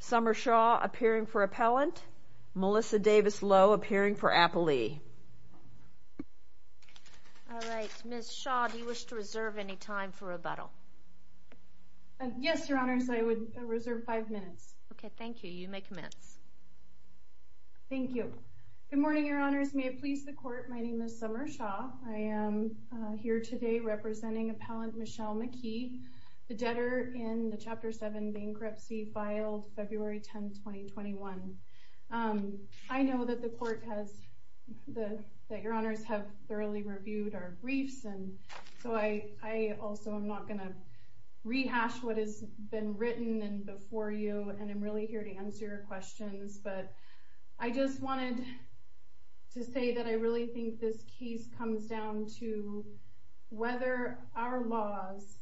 Summershaw appearing for appellant, Melissa Davis-Lowe appearing for appellee. Ms. Shaw, do you wish to reserve any time for rebuttal? Yes, Your Honors, I would reserve five minutes. Okay, thank you. You may commence. Thank you. Good morning, Your Honors. May it please the Court, my name is Summershaw. I am here today representing appellant Michelle McKee. The debtor in the Chapter 7 bankruptcy filed February 10, 2021. I know that the Court has, that Your Honors have thoroughly reviewed our briefs, and so I also am not going to rehash what has been written before you, and I'm really here to answer your questions, but I just wanted to say that I really think this case comes down to whether our laws,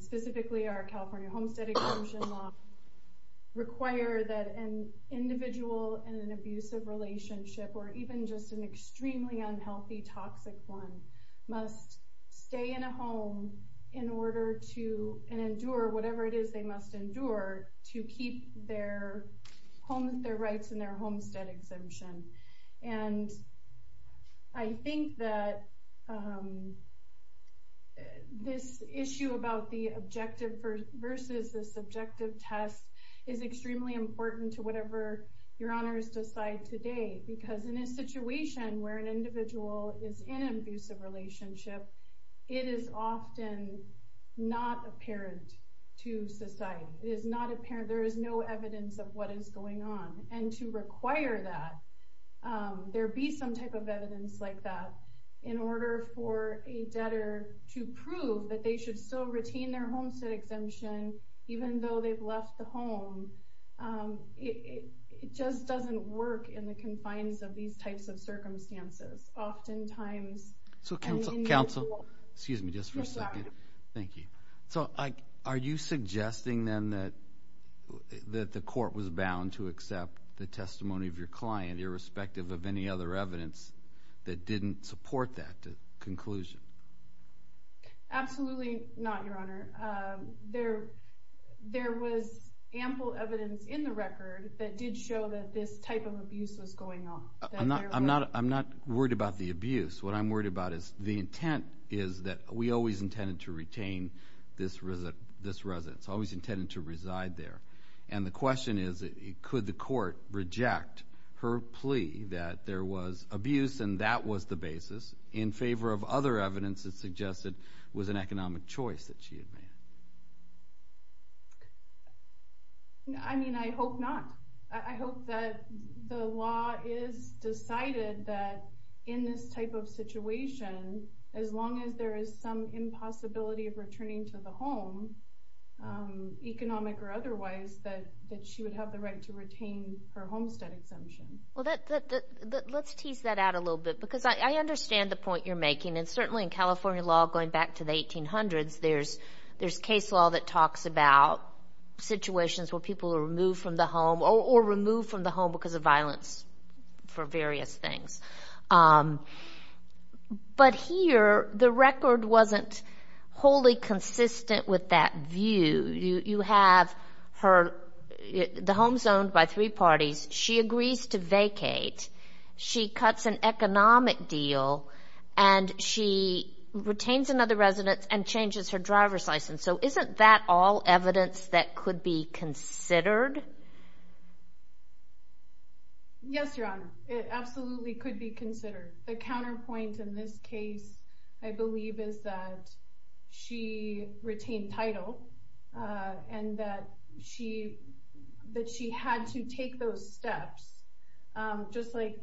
specifically our California Homestead Exclusion Law, require that an individual in an abusive relationship, or even just an extremely unhealthy, toxic one, must stay in a home in order to endure whatever it is they must endure to keep their rights in their homestead exemption. And I think that this issue about the objective versus the subjective test is extremely important to whatever Your Honors decide today, because in a situation where an individual is in an abusive relationship, it is often not apparent to society. There is no evidence of what is going on, and to require that there be some type of evidence like that in order for a debtor to prove that they should still retain their homestead exemption, even though they've left the home, it just doesn't work in the confines of these types of circumstances. So counsel, are you suggesting then that the court was bound to accept the testimony of your client irrespective of any other evidence that didn't support that conclusion? Absolutely not, Your Honor. There was ample evidence in the record that did show that this type of abuse was going on. I'm not worried about the abuse. What I'm worried about is the intent is that we always intended to retain this residence, always intended to reside there. And the question is, could the court reject her plea that there was abuse and that was the basis in favor of other evidence that suggested it was an economic choice that she had made? I mean, I hope not. I hope that the law is decided that in this type of situation, as long as there is some impossibility of returning to the home, economic or otherwise, that she would have the right to retain her homestead exemption. Well, let's tease that out a little bit, because I understand the point you're making. And certainly in California law going back to the 1800s, there's case law that talks about situations where people are removed from the home or removed from the home because of violence for various things. But here, the record wasn't wholly consistent with that view. You have the home zoned by three parties. She agrees to vacate. She cuts an economic deal, and she retains another residence and changes her driver's license. So isn't that all evidence that could be considered? Yes, Your Honor. It absolutely could be considered. The counterpoint in this case, I believe, is that she retained title and that she had to take those steps. Just like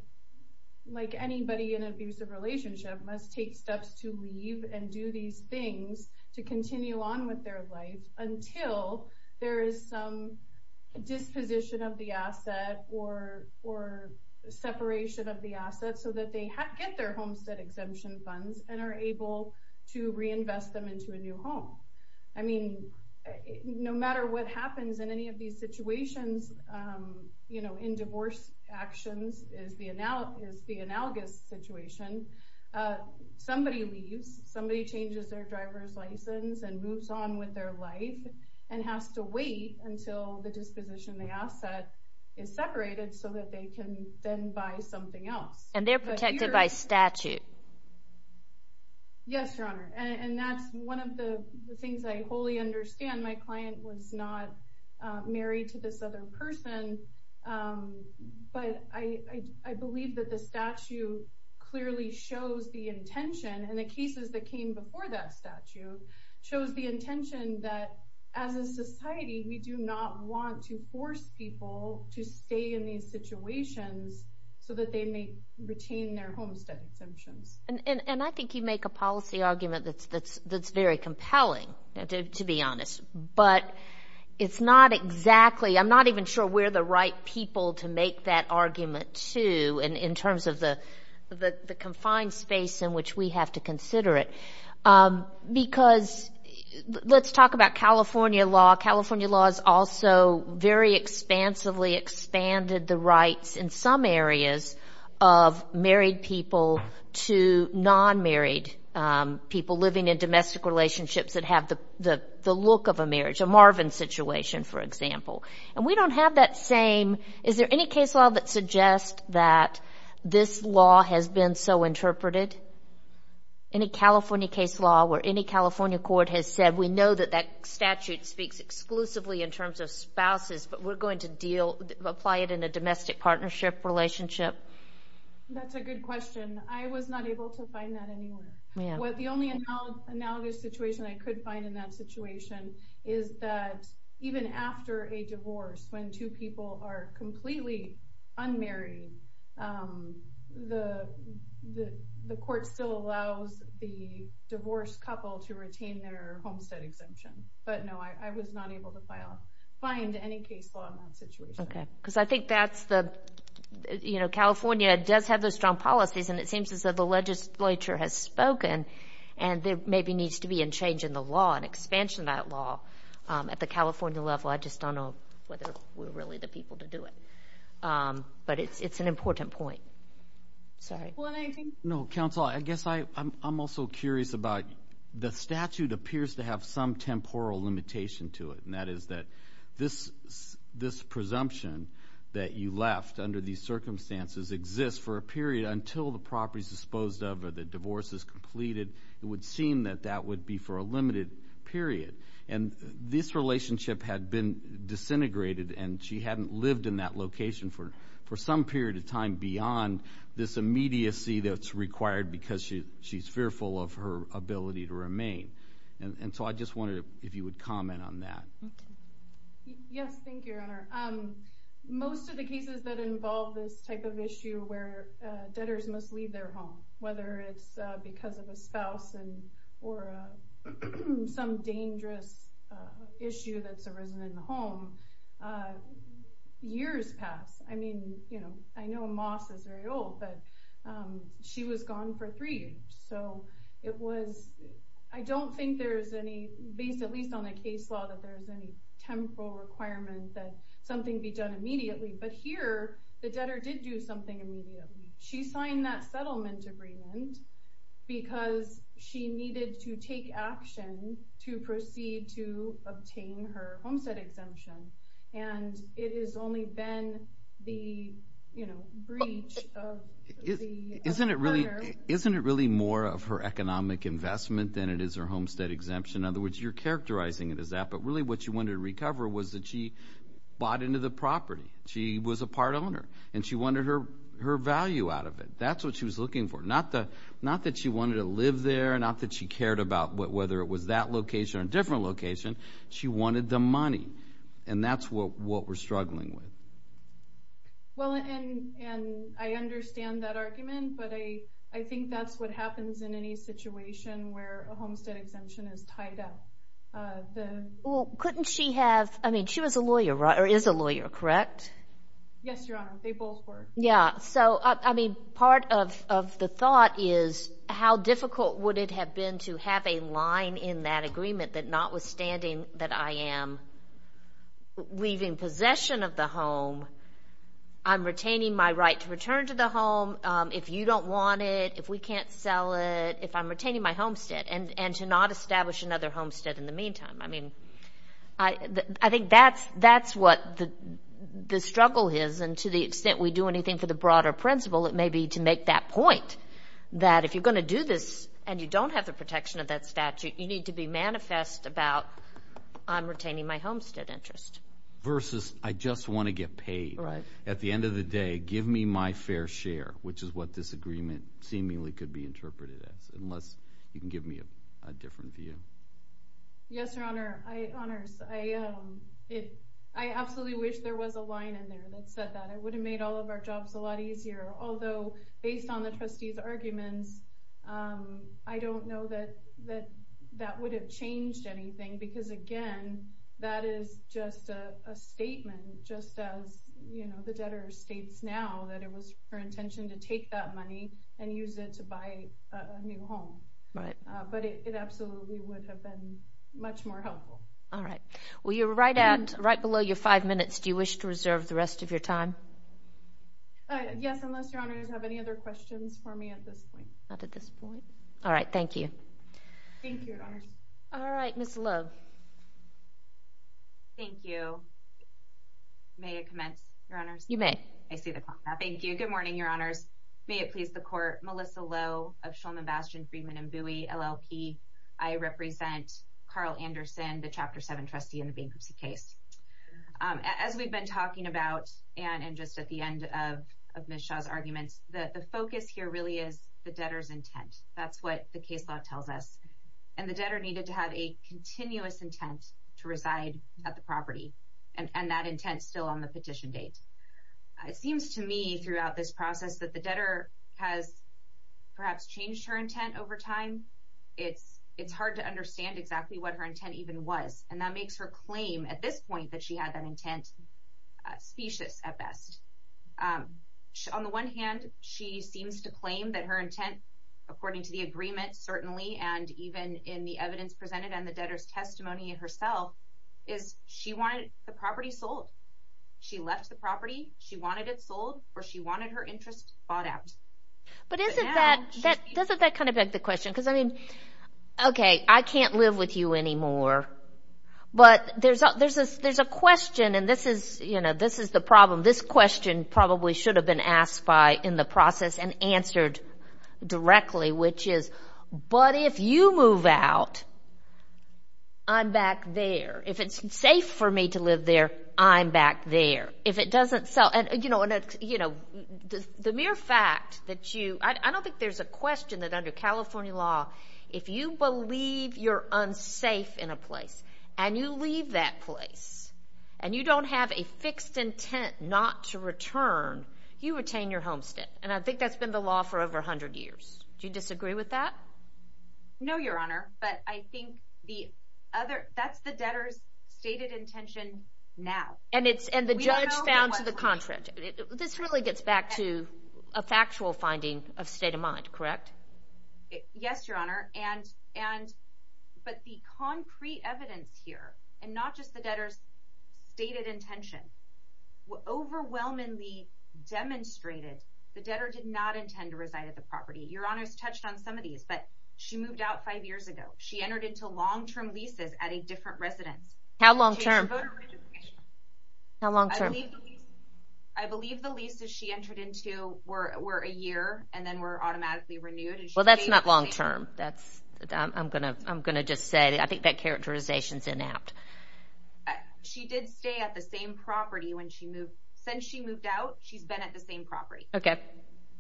anybody in an abusive relationship must take steps to leave and do these things to continue on with their life until there is some disposition of the asset or separation of the asset so that they get their homestead exemption funds and are able to reinvest them into a new home. I mean, no matter what happens in any of these situations, you know, in divorce actions is the analogous situation. Somebody leaves. Somebody changes their driver's license and moves on with their life and has to wait until the disposition of the asset is separated so that they can then buy something else. And they're protected by statute. Yes, Your Honor. And that's one of the things I wholly understand. My client was not married to this other person. But I believe that the statute clearly shows the intention and the cases that came before that statute shows the intention that as a society, we do not want to force people to stay in these situations so that they may retain their homestead exemptions. And I think you make a policy argument that's very compelling, to be honest. But it's not exactly, I'm not even sure we're the right people to make that argument, too, in terms of the confined space in which we have to consider it. Because let's talk about California law. California law has also very expansively expanded the rights in some areas of married people to non-married people living in domestic relationships that have the look of a marriage, a Marvin situation, for example. And we don't have that same, is there any case law that suggests that this law has been so interpreted? Any California case law where any California court has said, we know that that statute speaks exclusively in terms of spouses, but we're going to apply it in a domestic partnership relationship? That's a good question. I was not able to find that anywhere. The only analogous situation I could find in that situation is that even after a divorce, when two people are completely unmarried, the court still allows the divorced couple to retain their homestead exemption. But no, I was not able to find any case law in that situation. Okay, because I think that's the, you know, California does have those strong policies, and it seems as though the legislature has spoken, and there maybe needs to be a change in the law, an expansion of that law at the California level. I just don't know whether we're really the people to do it. But it's an important point. Sorry. No, counsel, I guess I'm also curious about the statute appears to have some temporal limitation to it, and that is that this presumption that you left under these circumstances exists for a period until the property is disposed of or the divorce is completed. It would seem that that would be for a limited period, and this relationship had been disintegrated, and she hadn't lived in that location for some period of time beyond this immediacy that's required because she's fearful of her ability to remain. And so I just wondered if you would comment on that. Yes, thank you. Most of the cases that involve this type of issue where debtors must leave their home, whether it's because of a spouse and or some dangerous issue that's arisen in the home. Years pass. I mean, you know, I know Moss is very old, but she was gone for three years. So it was. I don't think there's any base, at least on the case law, that there's any temporal requirement that something be done immediately. But here the debtor did do something immediately. She signed that settlement agreement because she needed to take action to proceed to obtain her homestead exemption. And it has only been the, you know, breach of the… Isn't it really more of her economic investment than it is her homestead exemption? In other words, you're characterizing it as that. But really what she wanted to recover was that she bought into the property. She was a part owner, and she wanted her value out of it. That's what she was looking for. Not that she wanted to live there, not that she cared about whether it was that location or a different location. She wanted the money, and that's what we're struggling with. Well, and I understand that argument, but I think that's what happens in any situation where a homestead exemption is tied up. Well, couldn't she have—I mean, she was a lawyer, right, or is a lawyer, correct? Yes, Your Honor, they both were. Yeah, so, I mean, part of the thought is how difficult would it have been to have a line in that agreement that notwithstanding that I am leaving possession of the home, I'm retaining my right to return to the home if you don't want it, if we can't sell it, if I'm retaining my homestead, and to not establish another homestead in the meantime. I mean, I think that's what the struggle is, and to the extent we do anything for the broader principle, it may be to make that point that if you're going to do this and you don't have the protection of that statute, you need to be manifest about I'm retaining my homestead interest. Versus I just want to get paid. Right. At the end of the day, give me my fair share, which is what this agreement seemingly could be interpreted as, unless you can give me a different view. Yes, Your Honor, I absolutely wish there was a line in there that said that. It would have made all of our jobs a lot easier. Although, based on the trustee's arguments, I don't know that that would have changed anything, because, again, that is just a statement, just as the debtor states now that it was her intention to take that money and use it to buy a new home. But it absolutely would have been much more helpful. All right. Well, you're right below your five minutes. Do you wish to reserve the rest of your time? Yes, unless Your Honors have any other questions for me at this point. Not at this point. All right. Thank you. Thank you, Your Honors. All right. Ms. Love. Thank you. May I commence, Your Honors? You may. I see the clock. Thank you. Good morning, Your Honors. May it please the Court. Melissa Lowe of Shulman, Bastian, Friedman & Bowie, LLP. I represent Carl Anderson, the Chapter 7 trustee in the bankruptcy case. As we've been talking about, and just at the end of Ms. Shaw's arguments, the focus here really is the debtor's intent. That's what the case law tells us. And the debtor needed to have a continuous intent to reside at the property. And that intent is still on the petition date. It seems to me throughout this process that the debtor has perhaps changed her intent over time. It's hard to understand exactly what her intent even was. And that makes her claim at this point that she had that intent specious at best. On the one hand, she seems to claim that her intent, according to the agreement, certainly, and even in the evidence presented and the debtor's testimony herself, is she wanted the property sold. She left the property. She wanted it sold, or she wanted her interest bought out. But isn't that kind of like the question? Because, I mean, okay, I can't live with you anymore. But there's a question, and this is the problem. This question probably should have been asked in the process and answered directly, which is, but if you move out, I'm back there. If it's safe for me to live there, I'm back there. If it doesn't sell, and, you know, the mere fact that you— I don't think there's a question that under California law, if you believe you're unsafe in a place and you leave that place and you don't have a fixed intent not to return, you retain your homestead. And I think that's been the law for over 100 years. Do you disagree with that? No, Your Honor, but I think that's the debtor's stated intention now. And the judge found to the contrary. This really gets back to a factual finding of state of mind, correct? Yes, Your Honor, but the concrete evidence here, and not just the debtor's stated intention, overwhelmingly demonstrated the debtor did not intend to reside at the property. Your Honor's touched on some of these, but she moved out five years ago. She entered into long-term leases at a different residence. How long-term? How long-term? I believe the leases she entered into were a year and then were automatically renewed. Well, that's not long-term. I'm going to just say I think that characterization's inapt. She did stay at the same property when she moved. Since she moved out, she's been at the same property. Okay.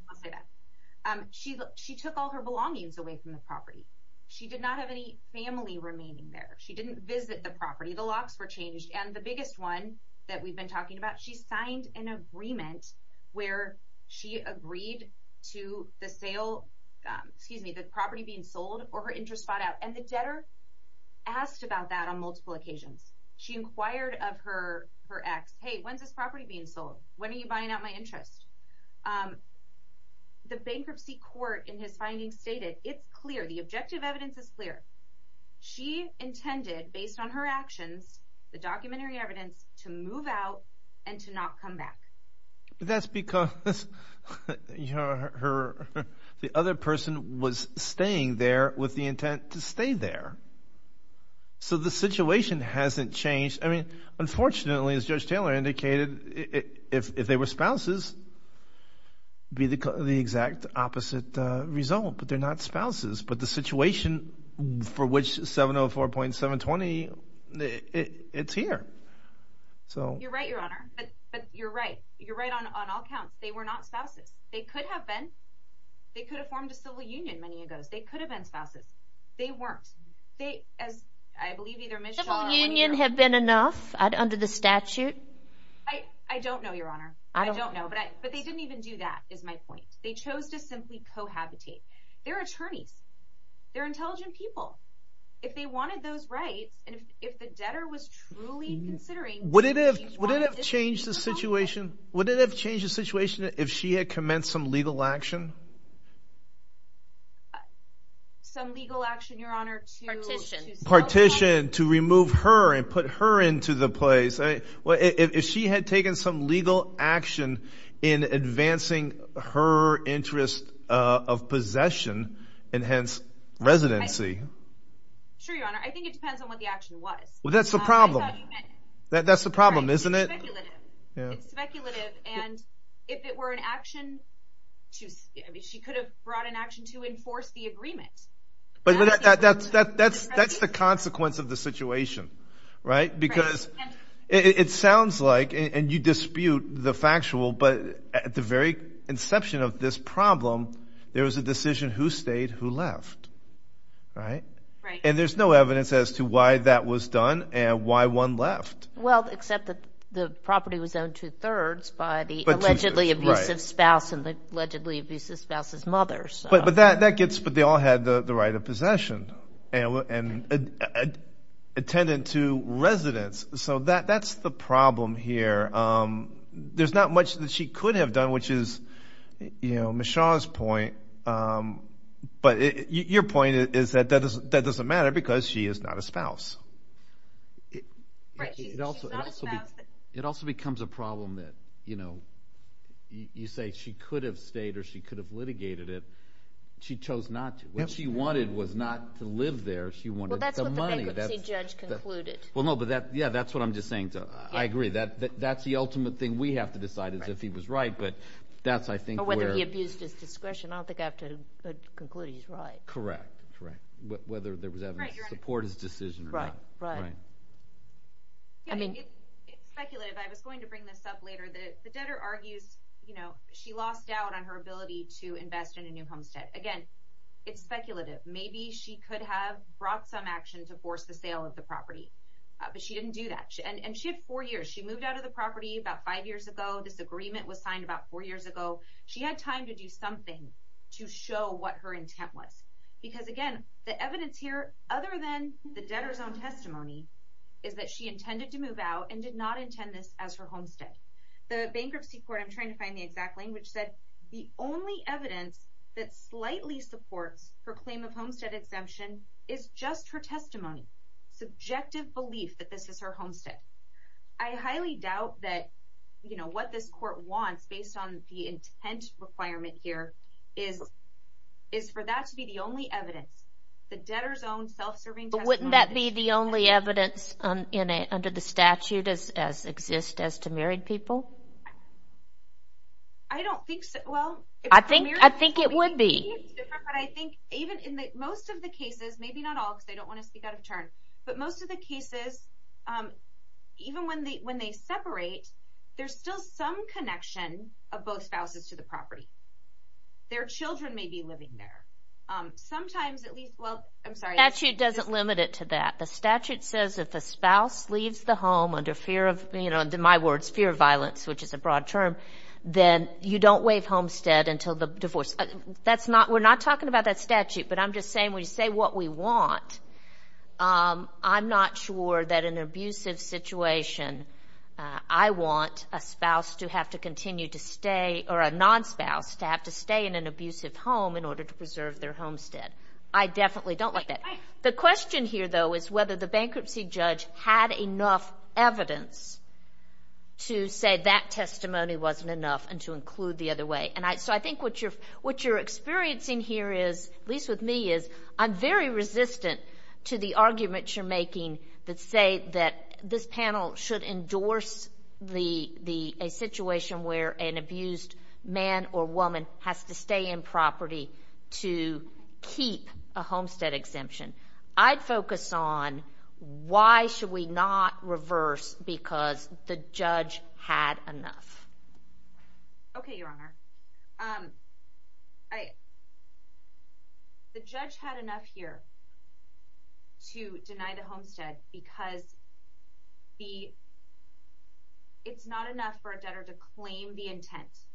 I'll say that. She took all her belongings away from the property. She did not have any family remaining there. She didn't visit the property. The locks were changed, and the biggest one that we've been talking about, she signed an agreement where she agreed to the sale, excuse me, the property being sold or her interest bought out, and the debtor asked about that on multiple occasions. She inquired of her ex, hey, when's this property being sold? When are you buying out my interest? The bankruptcy court in his findings stated it's clear. The objective evidence is clear. She intended, based on her actions, the documentary evidence, to move out and to not come back. That's because the other person was staying there with the intent to stay there. So the situation hasn't changed. I mean, unfortunately, as Judge Taylor indicated, if they were spouses, it would be the exact opposite result, but they're not spouses. But the situation for which 704.720, it's here. You're right, Your Honor. But you're right. You're right on all counts. They were not spouses. They could have been. They could have formed a civil union many years ago. They could have been spouses. They weren't. They, as I believe either Ms. Schall or one of your – Civil union have been enough under the statute? I don't know, Your Honor. I don't know. But they didn't even do that, is my point. They chose to simply cohabitate. They're attorneys. They're intelligent people. If they wanted those rights and if the debtor was truly considering – Would it have changed the situation? Would it have changed the situation if she had commenced some legal action? Some legal action, Your Honor, to – Partition. Partition, to remove her and put her into the place. If she had taken some legal action in advancing her interest of possession and hence residency. Sure, Your Honor. I think it depends on what the action was. Well, that's the problem. I thought you meant – That's the problem, isn't it? It's speculative. It's speculative. And if it were an action to – I mean she could have brought an action to enforce the agreement. But that's the consequence of the situation, right? Because it sounds like – And you dispute the factual, but at the very inception of this problem, there was a decision who stayed, who left, right? Right. And there's no evidence as to why that was done and why one left. Well, except that the property was owned two-thirds by the allegedly abusive spouse and the allegedly abusive spouse's mother. But that gets – So that's the problem here. There's not much that she could have done, which is Ms. Shaw's point. But your point is that that doesn't matter because she is not a spouse. Right. She's not a spouse. It also becomes a problem that you say she could have stayed or she could have litigated it. She chose not to. What she wanted was not to live there. She wanted the money. Well, that's what the bankruptcy judge concluded. Well, no, but that – yeah, that's what I'm just saying. I agree. That's the ultimate thing we have to decide is if he was right, but that's, I think, where – Or whether he abused his discretion. I don't think I have to conclude he's right. Correct. Correct. Whether there was evidence to support his decision or not. Right. Right. Right. It's speculative. I was going to bring this up later. The debtor argues she lost out on her ability to invest in a new homestead. Again, it's speculative. Maybe she could have brought some action to force the sale of the property, but she didn't do that. And she had four years. She moved out of the property about five years ago. This agreement was signed about four years ago. She had time to do something to show what her intent was because, again, the evidence here, other than the debtor's own testimony, is that she intended to move out and did not intend this as her homestead. The bankruptcy court – I'm trying to find the exact language – said, the only evidence that slightly supports her claim of homestead exemption is just her testimony, subjective belief that this is her homestead. I highly doubt that, you know, what this court wants, based on the intent requirement here, is for that to be the only evidence. The debtor's own self-serving testimony – I don't think so. I think it would be. But I think even in most of the cases – maybe not all because I don't want to speak out of turn – but most of the cases, even when they separate, there's still some connection of both spouses to the property. Their children may be living there. Sometimes at least – well, I'm sorry. The statute doesn't limit it to that. The statute says if the spouse leaves the home under fear of – you know, in my words, fear of violence, which is a broad term, then you don't waive homestead until the divorce. We're not talking about that statute, but I'm just saying when you say what we want, I'm not sure that in an abusive situation I want a spouse to have to continue to stay – or a non-spouse to have to stay in an abusive home in order to preserve their homestead. I definitely don't like that. The question here, though, is whether the bankruptcy judge had enough evidence to say that testimony wasn't enough and to include the other way. So I think what you're experiencing here is, at least with me, is I'm very resistant to the arguments you're making that say that this panel should endorse a situation where an abused man or woman has to stay in property to keep a homestead exemption. I'd focus on why should we not reverse because the judge had enough. Okay, Your Honor. The judge had enough here to deny the homestead because it's not enough for a debtor to claim the intent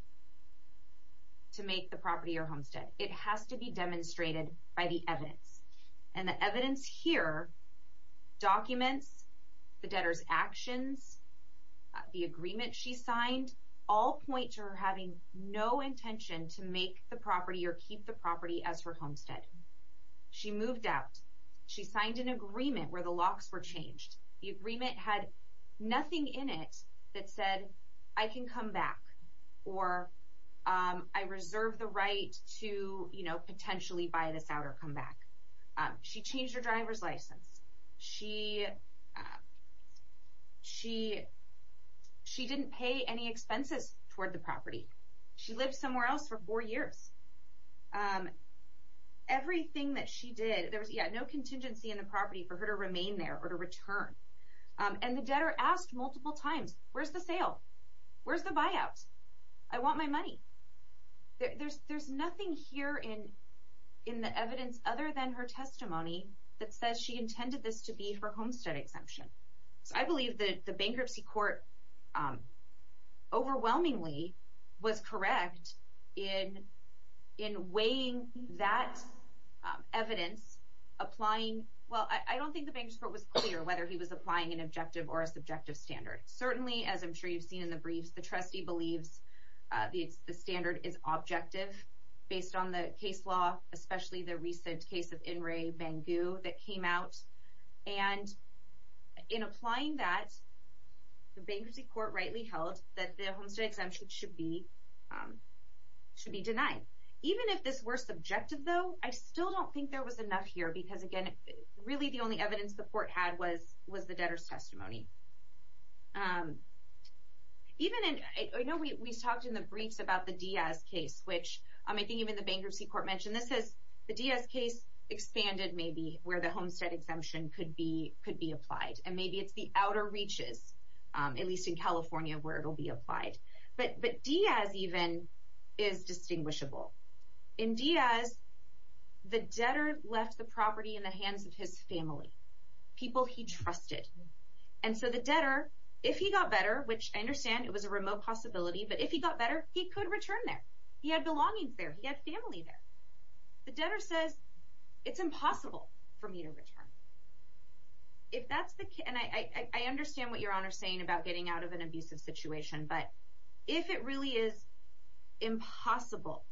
to make the property your homestead. It has to be demonstrated by the evidence, and the evidence here documents the debtor's actions, the agreement she signed, all point to her having no intention to make the property or keep the property as her homestead. She moved out. She signed an agreement where the locks were changed. The agreement had nothing in it that said, I can come back, or I reserve the right to potentially buy this out or come back. She changed her driver's license. She didn't pay any expenses toward the property. She lived somewhere else for four years. Everything that she did, there was no contingency in the property for her to remain there or to return. And the debtor asked multiple times, where's the sale? Where's the buyout? I want my money. There's nothing here in the evidence other than her testimony that says she intended this to be her homestead exemption. So I believe that the bankruptcy court overwhelmingly was correct in weighing that evidence, applying – well, I don't think the bankruptcy court was clear whether he was applying an objective or a subjective standard. Certainly, as I'm sure you've seen in the briefs, the trustee believes the standard is objective based on the case law, especially the recent case of In-Ray Bangu that came out. And in applying that, the bankruptcy court rightly held that the homestead exemption should be denied. Even if this were subjective, though, I still don't think there was enough here because, again, really the only evidence the court had was the debtor's testimony. I know we talked in the briefs about the Diaz case, which I think even the bankruptcy court mentioned. The Diaz case expanded maybe where the homestead exemption could be applied, and maybe it's the outer reaches, at least in California, where it will be applied. But Diaz even is distinguishable. In Diaz, the debtor left the property in the hands of his family, people he trusted. And so the debtor, if he got better, which I understand it was a remote possibility, but if he got better, he could return there. He had belongings there. He had family there. The debtor says, it's impossible for me to return. And I understand what Your Honor is saying about getting out of an abusive situation, but if it really is impossible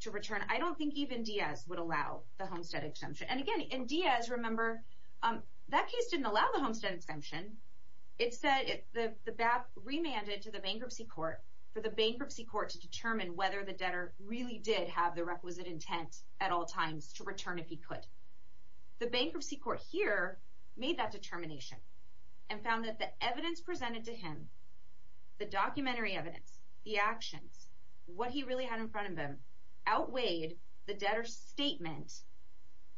to return, I don't think even Diaz would allow the homestead exemption. And, again, in Diaz, remember, that case didn't allow the homestead exemption. It said the BAP remanded to the bankruptcy court for the bankruptcy court to determine whether the debtor really did have the requisite intent at all times to return if he could. The bankruptcy court here made that determination and found that the evidence presented to him, the documentary evidence, the actions, what he really had in front of him, outweighed the debtor's statement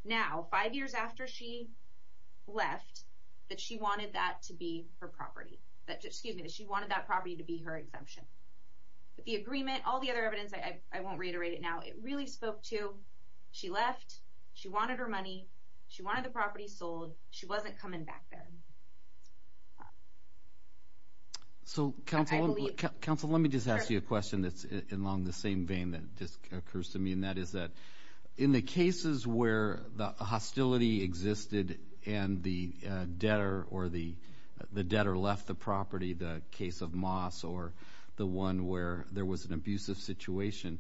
now, five years after she left, that she wanted that to be her property. Excuse me, that she wanted that property to be her exemption. But the agreement, all the other evidence, I won't reiterate it now, it really spoke to, she left, she wanted her money, she wanted the property sold, she wasn't coming back then. So, counsel, let me just ask you a question that's along the same vein that just occurs to me, and that is that in the cases where the hostility existed and the debtor or the debtor left the property, the case of Moss or the one where there was an abusive situation,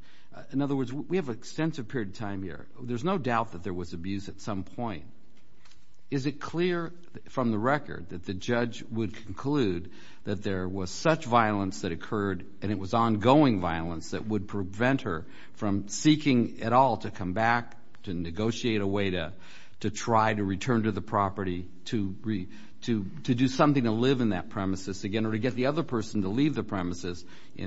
in other words, we have an extensive period of time here. There's no doubt that there was abuse at some point. Is it clear from the record that the judge would conclude that there was such violence that occurred and it was ongoing violence that would prevent her from seeking at all to come back, to negotiate a way to try to return to the property, to do something to live in that premises again or to get the other person to leave the premises? Do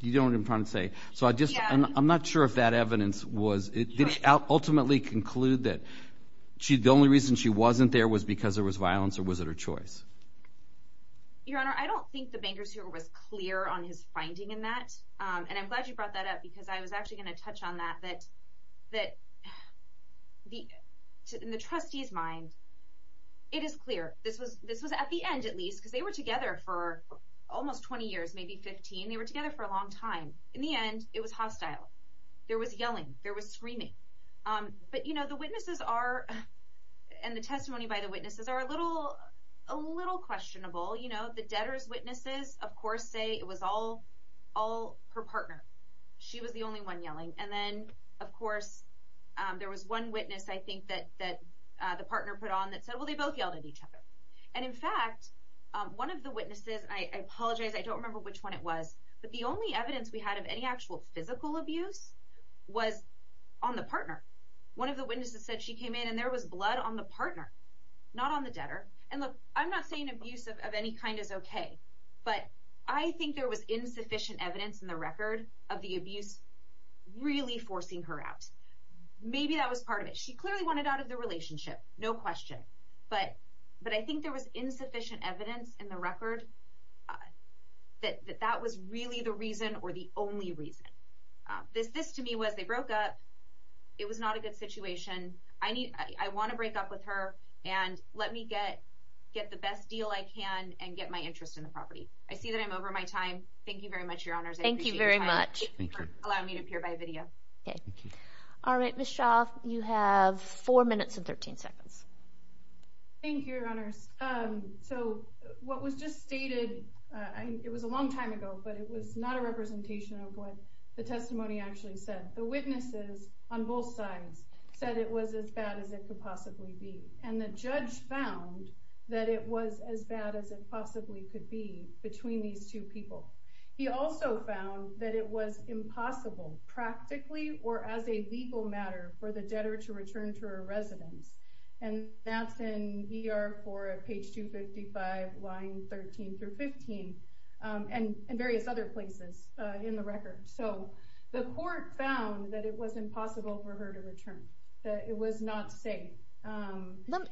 you know what I'm trying to say? I'm not sure if that evidence was, did it ultimately conclude that the only reason she wasn't there was because there was violence or was it her choice? Your Honor, I don't think the bankers here was clear on his finding in that, and I'm glad you brought that up because I was actually going to touch on that, that in the trustee's mind, it is clear. This was at the end, at least, because they were together for almost 20 years, maybe 15. They were together for a long time. In the end, it was hostile. There was yelling. There was screaming. But the witnesses are, and the testimony by the witnesses, are a little questionable. The debtor's witnesses, of course, say it was all her partner. She was the only one yelling. And then, of course, there was one witness I think that the partner put on that said, well, they both yelled at each other. And, in fact, one of the witnesses, and I apologize, I don't remember which one it was, but the only evidence we had of any actual physical abuse was on the partner. One of the witnesses said she came in and there was blood on the partner, not on the debtor. And, look, I'm not saying abuse of any kind is okay, but I think there was insufficient evidence in the record of the abuse really forcing her out. Maybe that was part of it. She clearly wanted out of the relationship, no question. But I think there was insufficient evidence in the record that that was really the reason or the only reason. This, to me, was they broke up. It was not a good situation. I want to break up with her, and let me get the best deal I can and get my interest in the property. I see that I'm over my time. Thank you very much, Your Honors. I appreciate your time. Thank you very much. Thank you. Thank you for allowing me to appear by video. Okay. All right, Ms. Shaw, you have four minutes and 13 seconds. Thank you, Your Honors. So what was just stated, it was a long time ago, but it was not a representation of what the testimony actually said. The witnesses on both sides said it was as bad as it could possibly be, and the judge found that it was as bad as it possibly could be between these two people. He also found that it was impossible practically or as a legal matter for the debtor to return to her residence, and that's in ER 4 at page 255, line 13 through 15, and various other places in the record. So the court found that it was impossible for her to return, that it was not safe.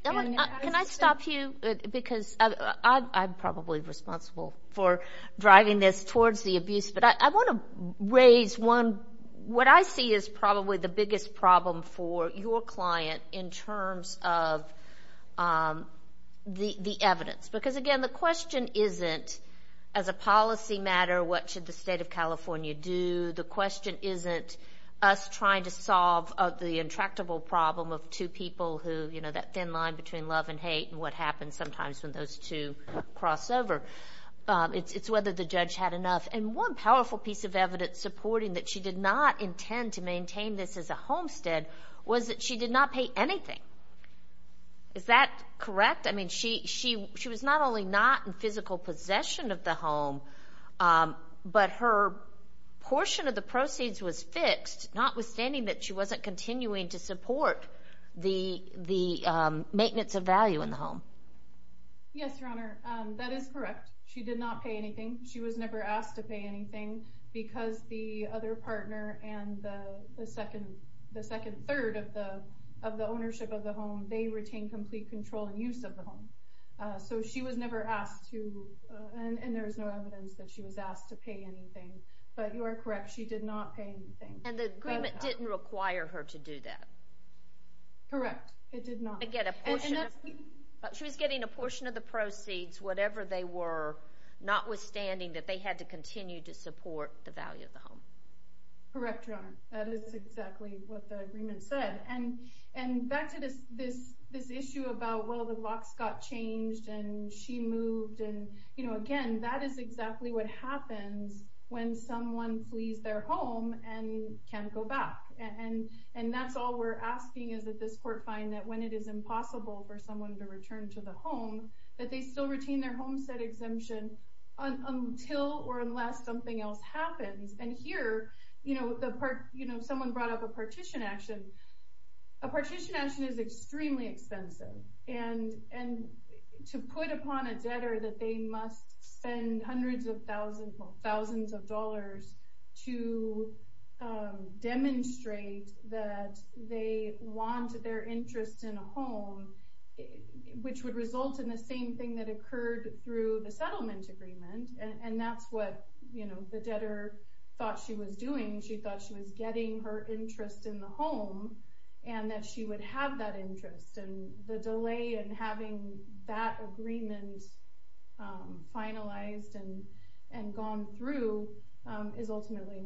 Ellen, can I stop you? Because I'm probably responsible for driving this towards the abuse, but I want to raise one. What I see is probably the biggest problem for your client in terms of the evidence, because, again, the question isn't, as a policy matter, what should the State of California do? The question isn't us trying to solve the intractable problem of two people who, you know, that thin line between love and hate and what happens sometimes when those two cross over. It's whether the judge had enough, and one powerful piece of evidence supporting that she did not intend to maintain this as a homestead was that she did not pay anything. Is that correct? I mean, she was not only not in physical possession of the home, but her portion of the proceeds was fixed, notwithstanding that she wasn't continuing to support the maintenance of value in the home. Yes, Your Honor, that is correct. She did not pay anything. She was never asked to pay anything because the other partner and the second third of the ownership of the home, they retain complete control and use of the home. So she was never asked to, and there is no evidence that she was asked to pay anything. But you are correct. She did not pay anything. And the agreement didn't require her to do that. Correct. It did not. She was getting a portion of the proceeds, whatever they were, notwithstanding that they had to continue to support the value of the home. Correct, Your Honor. That is exactly what the agreement said. And back to this issue about, well, the locks got changed and she moved. And, you know, again, that is exactly what happens when someone flees their home and can't go back. And that's all we're asking is that this court find that when it is impossible for someone to return to the home, that they still retain their homestead exemption until or unless something else happens. And here, you know, someone brought up a partition action. A partition action is extremely expensive. And to put upon a debtor that they must spend hundreds of thousands of dollars to demonstrate that they want their interest in a home, which would result in the same thing that occurred through the settlement agreement. And that's what, you know, the debtor thought she was doing. She thought she was getting her interest in the home and that she would have that interest. And the delay in having that agreement finalized and gone through is ultimately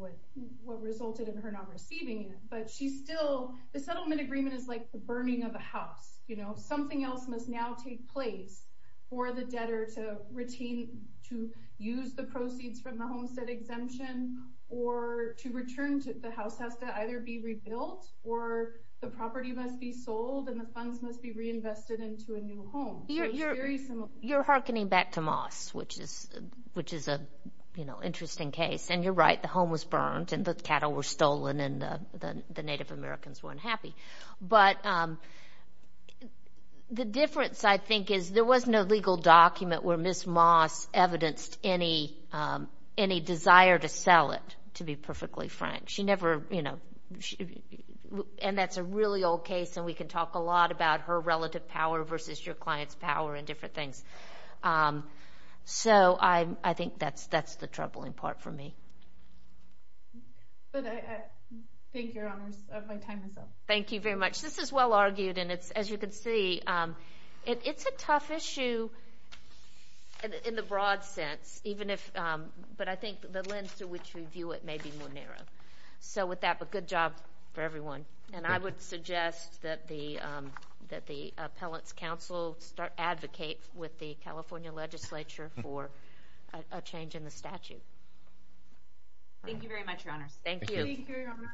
what resulted in her not receiving it. But she still, the settlement agreement is like the burning of a house. You know, something else must now take place for the debtor to retain, to use the proceeds from the homestead exemption or to return to the house that has to either be rebuilt or the property must be sold and the funds must be reinvested into a new home. You're hearkening back to Moss, which is an interesting case. And you're right, the home was burned and the cattle were stolen and the Native Americans weren't happy. But the difference, I think, is there was no legal document where Ms. Moss evidenced any desire to sell it, to be perfectly frank. She never, you know, and that's a really old case and we can talk a lot about her relative power versus your client's power and different things. So I think that's the troubling part for me. But I thank your honors. My time is up. Thank you very much. This is well argued and it's, as you can see, it's a tough issue in the broad sense. Even if, but I think the lens through which we view it may be more narrow. So with that, but good job for everyone. And I would suggest that the Appellate's Council start advocate with the California legislature for a change in the statute. Thank you very much, your honors. Thank you. Thank you, your honor.